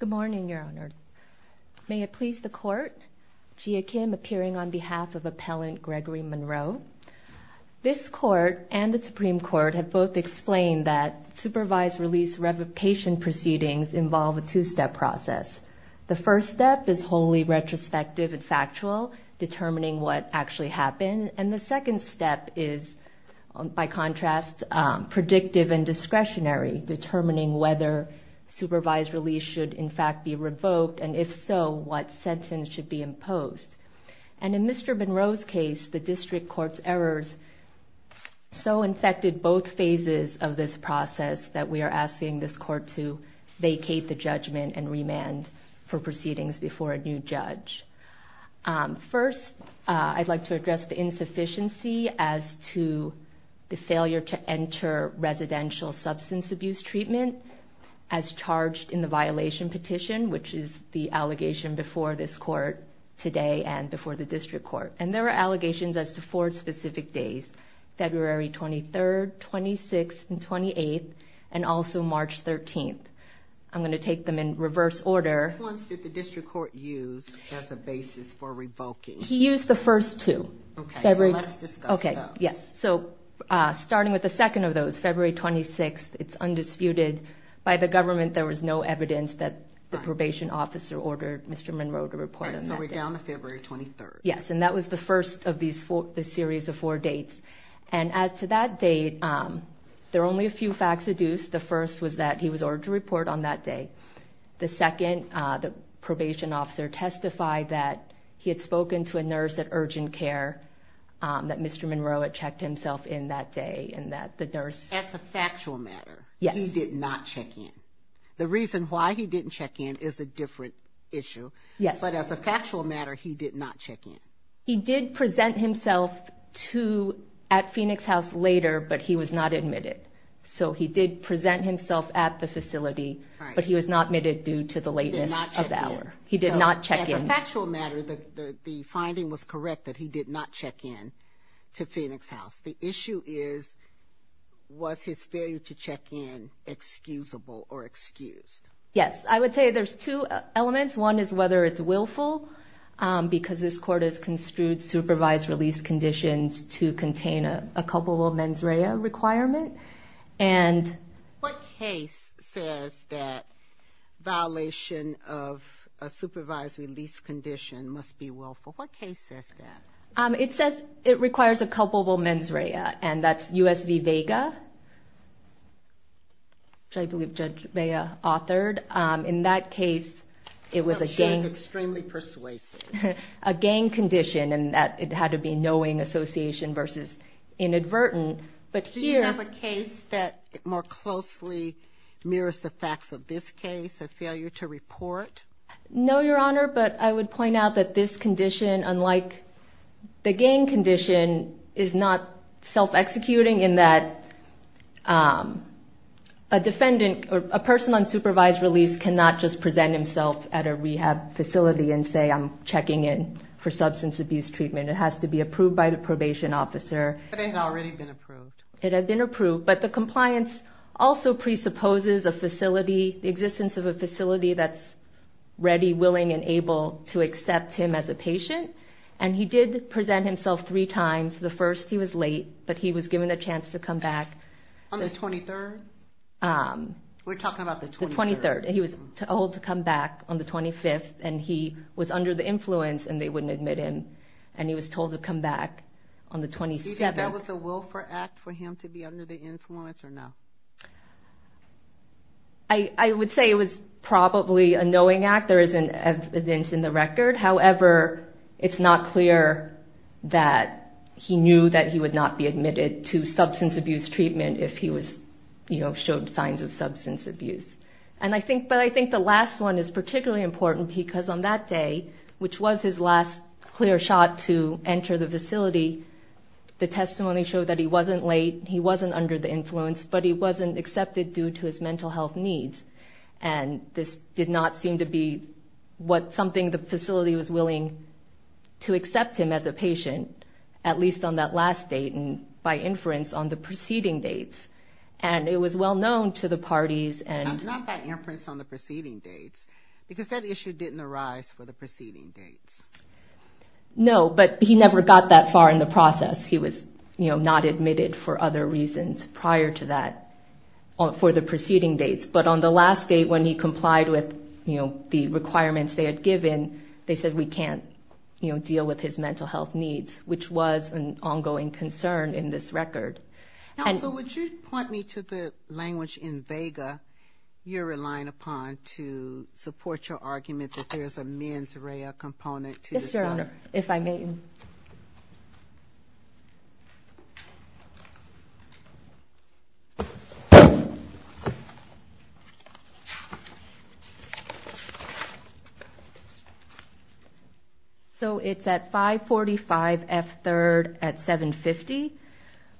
Good morning, Your Honor. May it please the Court, Jia Kim appearing on behalf of Appellant Gregory Monroe. This Court and the Supreme Court have both explained that supervised release revocation proceedings involve a two-step process. The first step is wholly retrospective and factual, determining what actually happened. And the second step is, by contrast, predictive and discretionary, determining whether supervised release should in fact be revoked and if so, what sentence should be imposed. And in Mr. Monroe's case, the District Court's errors so infected both phases of this process that we are asking this Court to vacate the judgment and remand for proceedings before a new judge. First, I'd like to address the insufficiency as to the failure to enter residential substance abuse treatment as charged in the violation petition, which is the allegation before this Court today and before the District Court. And there are allegations as to four specific days, February 23rd, 26th, and 28th, and also in reverse order. Which ones did the District Court use as a basis for revoking? He used the first two. Okay, so let's discuss those. Okay, yes. So, starting with the second of those, February 26th, it's undisputed by the government there was no evidence that the probation officer ordered Mr. Monroe to report on that day. So we're down to February 23rd. Yes, and that was the first of these four, the series of four dates. And as to that date, there are only a few facts adduced. The first was that he was ordered to report on that day. The second, the probation officer testified that he had spoken to a nurse at Urgent Care, that Mr. Monroe had checked himself in that day, and that the nurse... As a factual matter, he did not check in. The reason why he didn't check in is a different issue, but as a factual matter, he did not check in. He did present himself at Phoenix House later, but he was not admitted. So he did present himself at the facility, but he was not admitted due to the lateness of the hour. He did not check in. So, as a factual matter, the finding was correct that he did not check in to Phoenix House. The issue is, was his failure to check in excusable or excused? Yes, I would say there's two elements. One is whether it's because this court has construed supervised release conditions to contain a culpable mens rea requirement. And... What case says that violation of a supervised release condition must be willful? What case says that? It says it requires a culpable mens rea, and that's U.S. v. Vega, which I believe Judge Vea authored. In that case, it was a gang... She's extremely persuasive. A gang condition, and that it had to be knowing association versus inadvertent. But here... Do you have a case that more closely mirrors the facts of this case, a failure to report? No, Your Honor, but I would point out that this condition, unlike the gang condition, is not self-executing in that a person on supervised release cannot just present himself at a rehab facility and say, I'm checking in for substance abuse treatment. It has to be approved by the probation officer. But it had already been approved. It had been approved, but the compliance also presupposes a facility, the existence of a facility that's ready, willing, and able to accept him as a patient. And he did present himself three times. The first, he was late, but he was given a chance to come back. On the 23rd? We're talking about the 23rd. The 23rd. He was told to come back on the 25th, and he was under the influence, and they wouldn't admit him. And he was told to come back on the 27th. Do you think that was a willful act for him to be under the influence or no? I would say it was probably a knowing act. There isn't evidence in the record. However, it's not clear that he knew that he would not be admitted to substance abuse treatment if he was, you know, showed signs of substance abuse. And I think, but I think the last one is particularly important because on that day, which was his last clear shot to enter the facility, the testimony showed that he wasn't late, he wasn't under the influence, but he wasn't accepted due to his mental health needs. And this did not seem to be what, something the facility was willing to accept him as a patient, at least on that last date and by inference on the preceding dates. And it was well known to the parties and... Not by inference on the preceding dates, because that issue didn't arise for the preceding dates. No, but he never got that far in the process. He was, you know, not admitted for other reasons prior to that for the preceding dates. But on the last date, when he complied with, you know, the requirements they had given, they said, we can't, you know, deal with his mental health needs, which was an ongoing concern in this record. Now, so would you point me to the language in Vega you're relying upon to support your argument that there's a mens rea component to this? If I may. So it's at 545 F. 3rd at 750.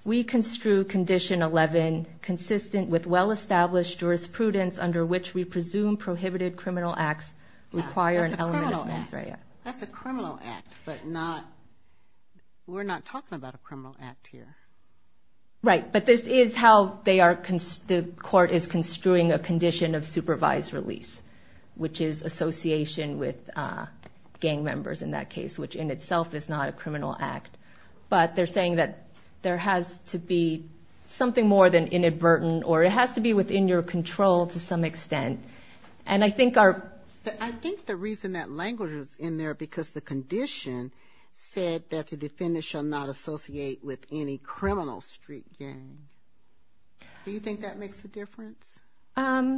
We construe condition 11 consistent with well-established jurisprudence under which we presume prohibited criminal acts require an element of mens rea. That's a criminal act, but not... We're not talking about a criminal act here. Right. But this is how they are... The court is construing a condition of supervised release, which is association with gang members in that case, which in itself is not a criminal act. But they're saying that there has to be something more than inadvertent or it has to be within your control to some extent. And I think our... I think the reason that language is in there, because the condition said that the defendant shall not associate with any criminal street gang. Do you think that makes a difference? I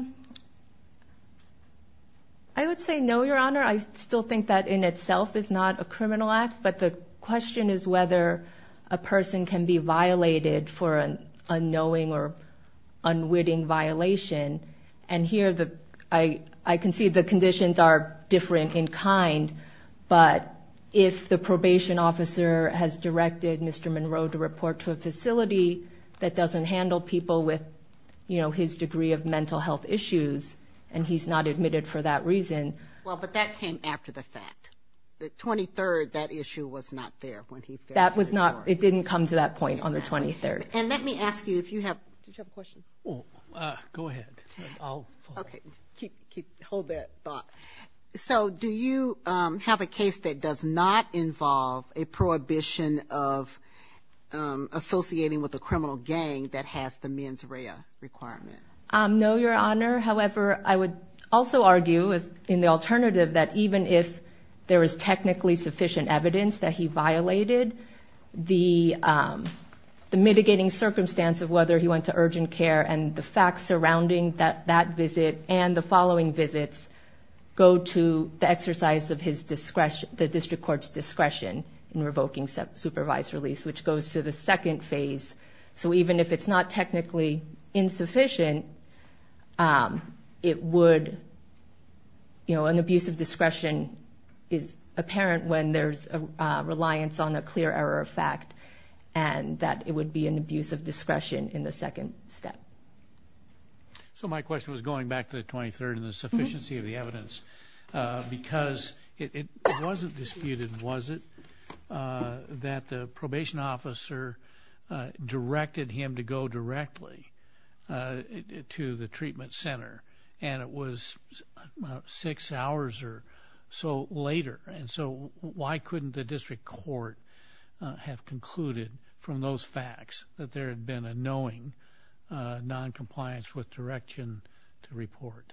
would say no, Your Honor. I still think that in itself is not a criminal act. But the question is whether a person can be violated for an unknowing or unwitting violation. And here, I can see the conditions are different in kind, but if the probation officer has directed Mr. Monroe to report to a facility that doesn't handle people with, you know, his degree of mental health issues and he's not admitted for that reason... Well, but that came after the fact. The 23rd, that issue was not there when he... That was not... It didn't come to that point on the 23rd. And let me ask you if you have... Did you have a question? Oh, go ahead. Okay. Keep... Hold that thought. So do you have a case that does not involve a prohibition of associating with a criminal gang that has the mens rea requirement? No, Your Honor. However, I would also argue in the alternative that even if there is technically sufficient evidence that he violated the mitigating circumstance of whether he went to urgent care and the facts surrounding that visit and the following visits go to the exercise of his discretion, the district court's discretion in revoking supervised release, which goes to the second phase. So even if it's not technically insufficient, it would... You know, an abuse of discretion is apparent when there's a reliance on a clear error of fact and that it would be an abuse of discretion in the second step. So my question was going back to the 23rd and the sufficiency of the evidence, because it wasn't disputed, was it, that the probation officer directed him to go directly to the treatment center and it was six hours or so later. And so why couldn't the district court have concluded from those facts that there had been a knowing noncompliance with direction to report?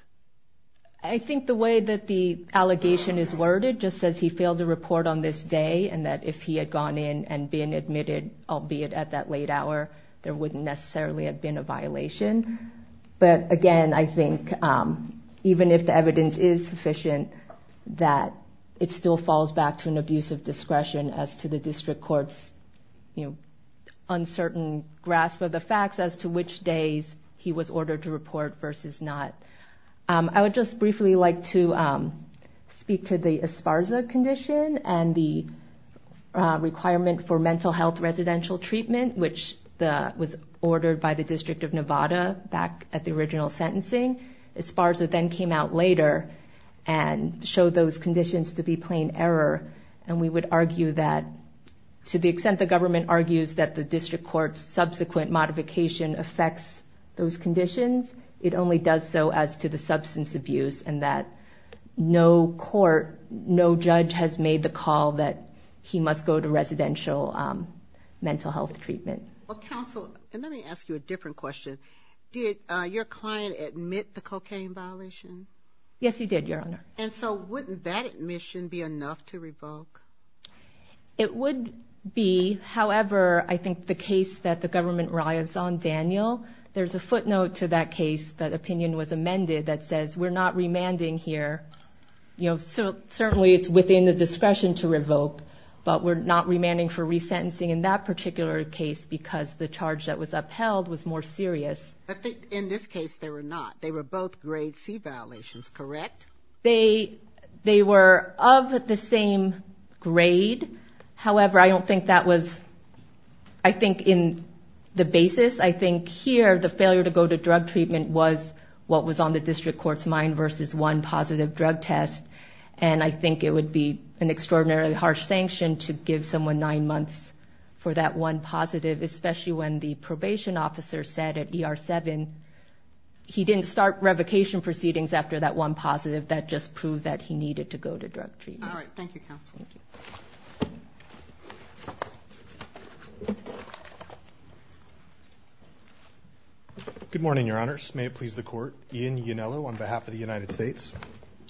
I think the way that the allegation is worded just says he failed to report on this day and that if he had gone in and been admitted, albeit at that late hour, there wouldn't necessarily have been a violation. But again, I think even if the evidence is sufficient, that it still falls back to an abuse of discretion as to the district court's, you know, uncertain grasp of the facts as to which days he was ordered to report versus not. I would just briefly like to speak to the Esparza condition and the requirement for back at the original sentencing. Esparza then came out later and showed those conditions to be plain error. And we would argue that to the extent the government argues that the district court's subsequent modification affects those conditions, it only does so as to the substance abuse and that no court, no judge has made the call that he must go to residential mental health treatment. Well, counsel, let me ask you a different question. Did your client admit the cocaine violation? Yes, he did, Your Honor. And so wouldn't that admission be enough to revoke? It would be. However, I think the case that the government relies on, Daniel, there's a footnote to that case that opinion was amended that says we're not remanding here. You know, so certainly it's within the discretion to revoke, but we're not remanding for resentencing in that particular case because the charge that was upheld was more serious. In this case, they were not. They were both grade C violations, correct? They were of the same grade. However, I don't think that was, I think, in the basis. I think here the failure to go to drug treatment was what was on the district court's mind versus one positive drug test. And I think it would be an extraordinarily harsh sanction to give someone nine months for that one positive, especially when the probation officer said at ER seven, he didn't start revocation proceedings after that one positive. That just proved that he needed to go to drug treatment. All right. Thank you, counsel. Good morning, Your Honors. May it please the court. Ian Ionello on behalf of the United States.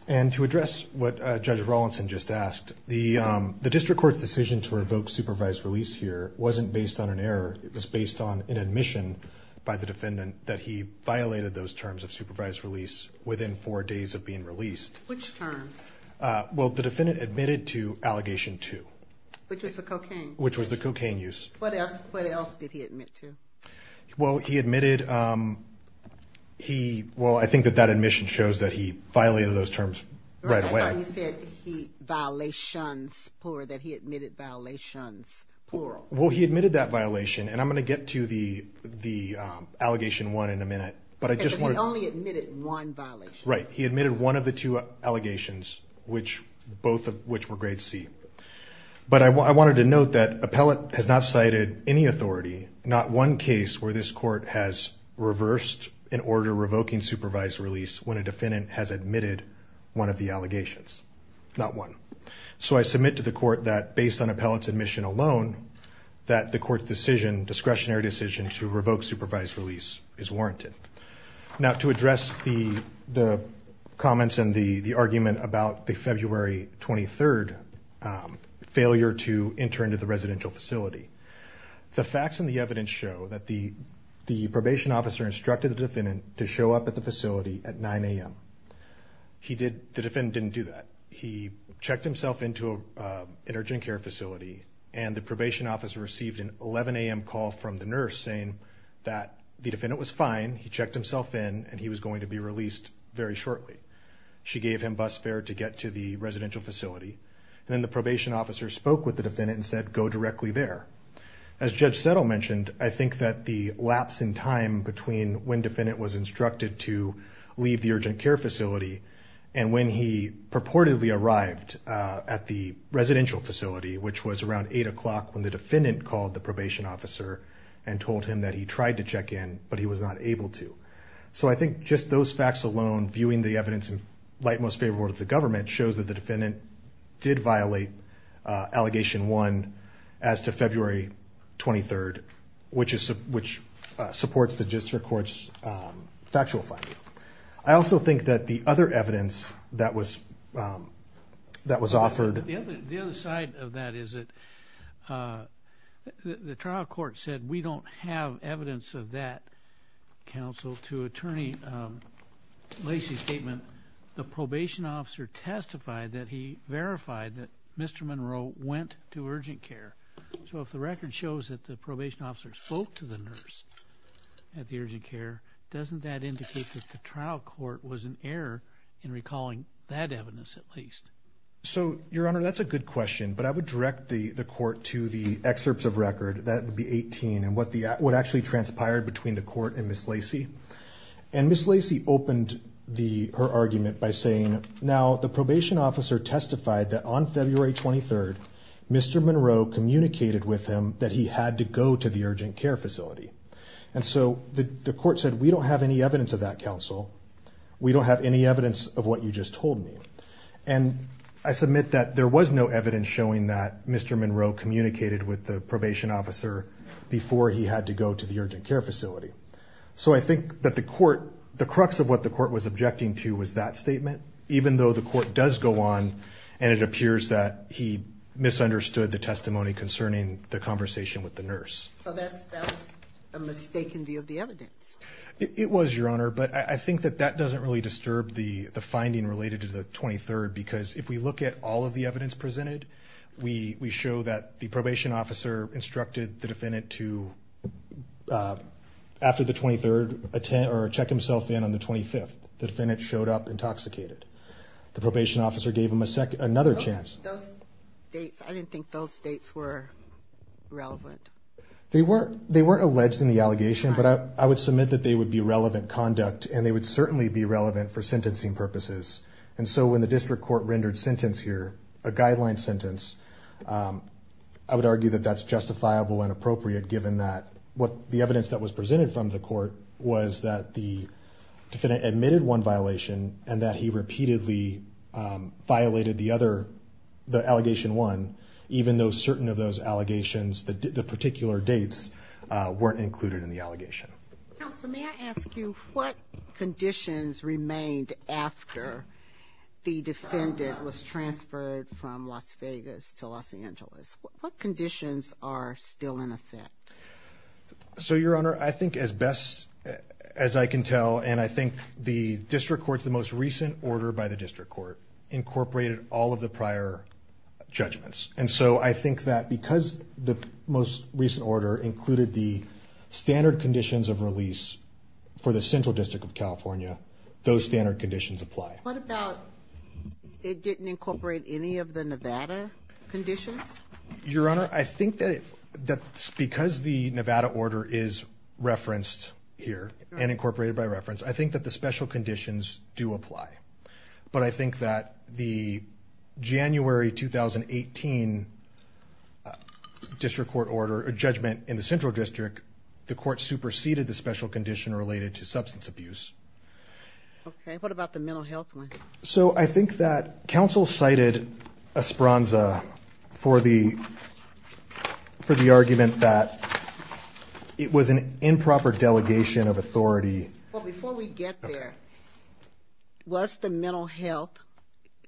And to address what Judge Rawlinson just asked, the district court's decision to revoke supervised release here wasn't based on an error. It was based on an admission by the defendant that he violated those terms of supervised release within four days of being released. Which terms? Well, the defendant admitted to allegation two. Which was the cocaine? Which was the cocaine use. What else did he admit to? Well, he admitted, he, well, I think that that admission shows that he violated those terms right away. I thought you said he, violations, plural, that he admitted violations, plural. Well, he admitted that violation. And I'm going to get to the, the allegation one in a minute, but I just want. Because he only admitted one violation. Right. He admitted one of the two allegations, which both of which were grade C. But I wanted to note that appellate has not cited any authority, not one case where this court has reversed an order revoking supervised release when a defendant has admitted one of the allegations, not one. So I submit to the court that based on appellate's admission alone, that the court's decision, discretionary decision to revoke supervised release is warranted. Now to address the, the comments and the, the argument about the February 23rd failure to enter into the residential facility, the facts and the evidence show that the, the probation officer instructed the defendant to show up at the facility at 9 a.m. He did, the defendant didn't do that. He checked himself into an urgent care facility and the probation officer received an 11 a.m. call from the nurse saying that the defendant was fine. He checked himself in and he was going to be released very shortly. She gave him bus fare to get to the residential facility and then the probation officer spoke with the defendant and said, go directly there. As Judge Settle mentioned, I think that the lapse in time between when defendant was instructed to leave the urgent care facility and when he purportedly arrived at the residential facility, which was around eight o'clock when the defendant called the probation officer and told him that he tried to check in, but he was not able to, so I think just those facts alone, viewing the evidence in light, most favorable to the government, shows that the defendant did violate allegation one as to February 23rd, which is, which supports the district court's factual finding. I also think that the other evidence that was, that was offered. The other side of that is that the trial court said, we don't have evidence of that counsel to attorney, um, Lacey's statement, the probation officer testified that he verified that Mr. Monroe went to urgent care. So if the record shows that the probation officer spoke to the nurse at the urgent care, doesn't that indicate that the trial court was an error in recalling that evidence at least? So your honor, that's a good question, but I would direct the court to the excerpts of record that would be 18 and what the, what actually transpired between the court and Ms. Lacey and Ms. Lacey opened the, her argument by saying, now the probation officer testified that on February 23rd, Mr. Monroe communicated with him that he had to go to the urgent care facility. And so the court said, we don't have any evidence of that counsel. We don't have any evidence of what you just told me. And I submit that there was no evidence showing that Mr. Monroe spoke to the probation officer before he had to go to the urgent care facility. So I think that the court, the crux of what the court was objecting to was that statement, even though the court does go on and it appears that he misunderstood the testimony concerning the conversation with the nurse. So that's, that was a mistaken view of the evidence. It was your honor, but I think that that doesn't really disturb the finding related to the 23rd, because if we look at all of the evidence presented, we show that the court instructed the defendant to, after the 23rd, attend or check himself in on the 25th, the defendant showed up intoxicated. The probation officer gave him a second, another chance. Those dates, I didn't think those dates were relevant. They were, they weren't alleged in the allegation, but I would submit that they would be relevant conduct and they would certainly be relevant for sentencing purposes. And so when the district court rendered sentence here, a guideline sentence, I would argue that that's justifiable and appropriate given that what the evidence that was presented from the court was that the defendant admitted one violation and that he repeatedly violated the other, the allegation one, even though certain of those allegations, the particular dates weren't included in the allegation. Counsel, may I ask you what conditions remained after the defendant was transferred from Las Vegas to Los Angeles? What conditions are still in effect? So your honor, I think as best as I can tell, and I think the district court's the most recent order by the district court incorporated all of the prior judgments. And so I think that because the most recent order included the standard conditions of release for the central district of California, those standard conditions apply. What about it didn't incorporate any of the Nevada conditions? Your honor, I think that that's because the Nevada order is referenced here and incorporated by reference. I think that the special conditions do apply, but I think that the January 2018 district court order, a judgment in the central district, the court superseded the special condition related to substance abuse. Okay. What about the mental health one? So I think that counsel cited a spronza for the, for the argument that it was an improper delegation of authority. Well, before we get there, what's the mental health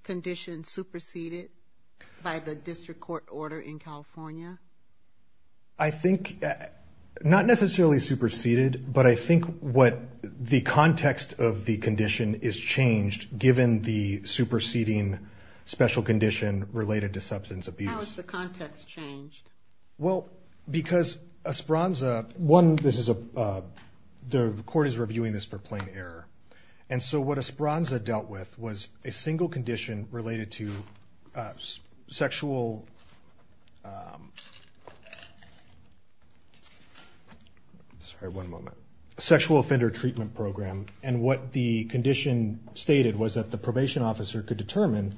condition superseded by the district court order in California? I think not necessarily superseded, but I think what the context of the condition is changed given the superseding special condition related to substance abuse. How has the context changed? Well, because a spronza, one, this is a, the court is reviewing this for plain error. And so what a spronza dealt with was a single condition related to sexual, sorry, one moment, sexual offender treatment program. And what the condition stated was that the probation officer could determine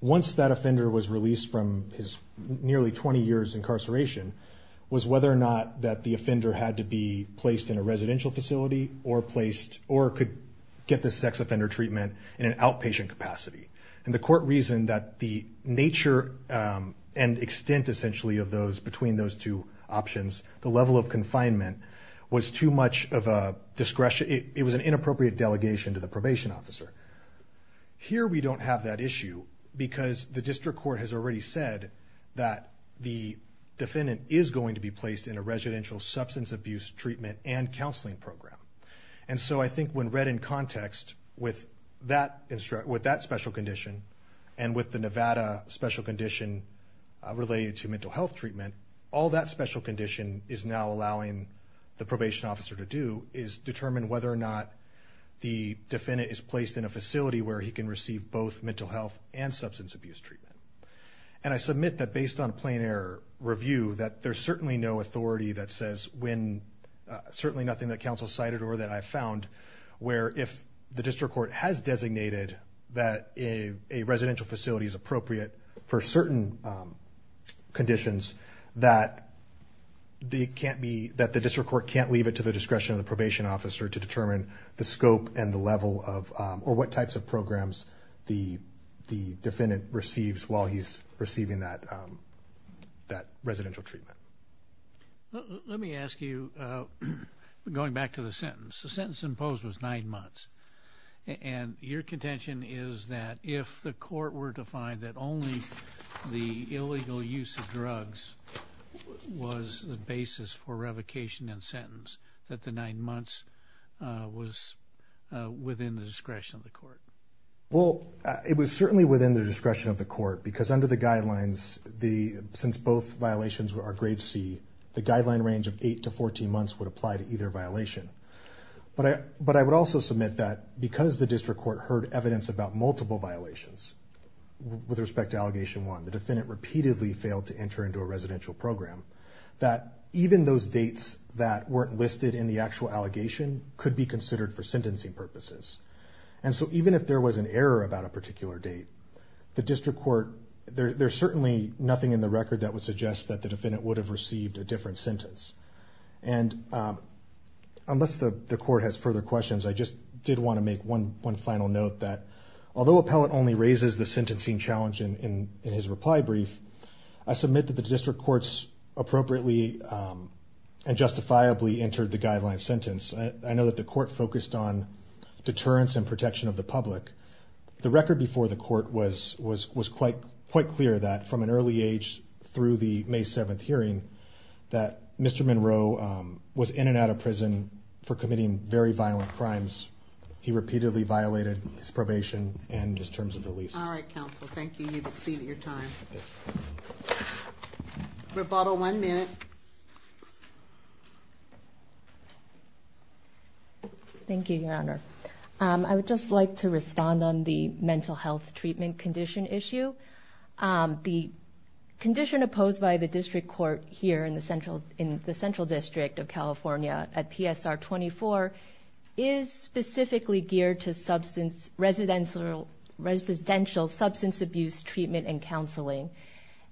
once that offender was released from his nearly 20 years incarceration was whether or not that the offender had to be placed in a residential facility or placed, or could get the sex offender treatment in an outpatient capacity. And the court reasoned that the nature and extent essentially of those between those two options, the level of confinement was too much of a discretion. It was an inappropriate delegation to the probation officer. Here, we don't have that issue because the district court has already said that the defendant is going to be placed in a residential substance abuse treatment and counseling program. And so I think when read in context with that special condition and with the Nevada special condition related to mental health treatment, all that special condition is now allowing the probation officer to do is determine whether or not the defendant is placed in a facility where he can receive both mental health and substance abuse treatment. And I submit that based on plain error review, that there's certainly no authority that says when certainly nothing that counsel cited or that I found where if the for certain conditions that it can't be that the district court can't leave it to the discretion of the probation officer to determine the scope and the level of or what types of programs the defendant receives while he's receiving that that residential treatment. Let me ask you, going back to the sentence, the sentence imposed was nine months. And your contention is that if the court were to find that only the illegal use of drugs was the basis for revocation and sentence, that the nine months was within the discretion of the court? Well, it was certainly within the discretion of the court because under the guidelines, the since both violations were our grade C, the guideline range of eight to 14 months would apply to either violation. But I, but I would also submit that because the district court heard evidence about multiple violations with respect to allegation one, the defendant repeatedly failed to enter into a residential program that even those dates that weren't listed in the actual allegation could be considered for sentencing purposes. And so even if there was an error about a particular date, the district court, there's certainly nothing in the record that would suggest that the defendant would have received a different sentence. And unless the court has further questions, I just did want to make one final note that although appellate only raises the sentencing challenge in his reply brief, I submit that the district courts appropriately and justifiably entered the guideline sentence. I know that the court focused on deterrence and protection of the public. The record before the court was quite clear that from an early age through the May 7th Mr. Monroe was in and out of prison for committing very violent crimes. He repeatedly violated his probation and his terms of release. All right, counsel. Thank you. You've exceeded your time. Rebotto, one minute. Thank you, your honor. I would just like to respond on the mental health treatment condition issue. The condition opposed by the district court here in the central district of California at PSR 24 is specifically geared to residential substance abuse treatment and counseling.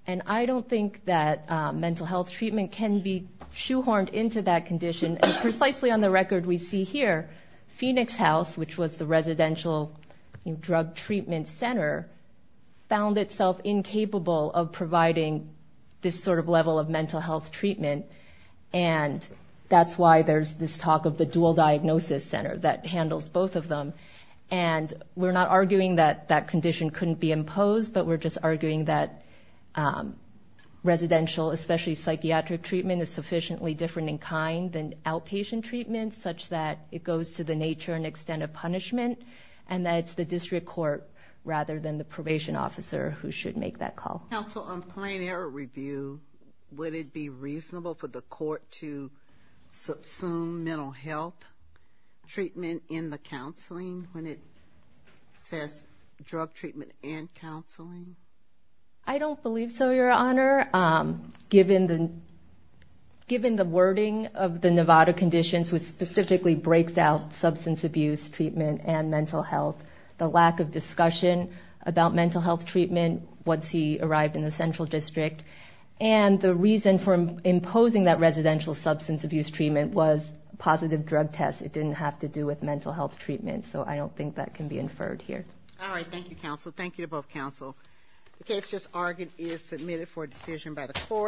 And I don't think that mental health treatment can be shoehorned into that condition. Precisely on the record we see here, Phoenix House, which was the residential drug treatment center, found itself incapable of providing this sort of level of mental health treatment. And that's why there's this talk of the dual diagnosis center that handles both of them. And we're not arguing that that condition couldn't be imposed, but we're just arguing that residential, especially psychiatric treatment, is sufficiently different in kind than outpatient treatment, such that it goes to the nature and the district court rather than the probation officer who should make that call. Counsel, on plain error review, would it be reasonable for the court to subsume mental health treatment in the counseling when it says drug treatment and counseling? I don't believe so, your honor. Given the wording of the Nevada conditions, which specifically breaks out substance abuse treatment and mental health, the lack of discussion about mental health treatment once he arrived in the central district, and the reason for imposing that residential substance abuse treatment was positive drug tests. It didn't have to do with mental health treatment. So I don't think that can be inferred here. All right. Thank you, counsel. Thank you to both counsel. The case just argued is submitted for decision by the court.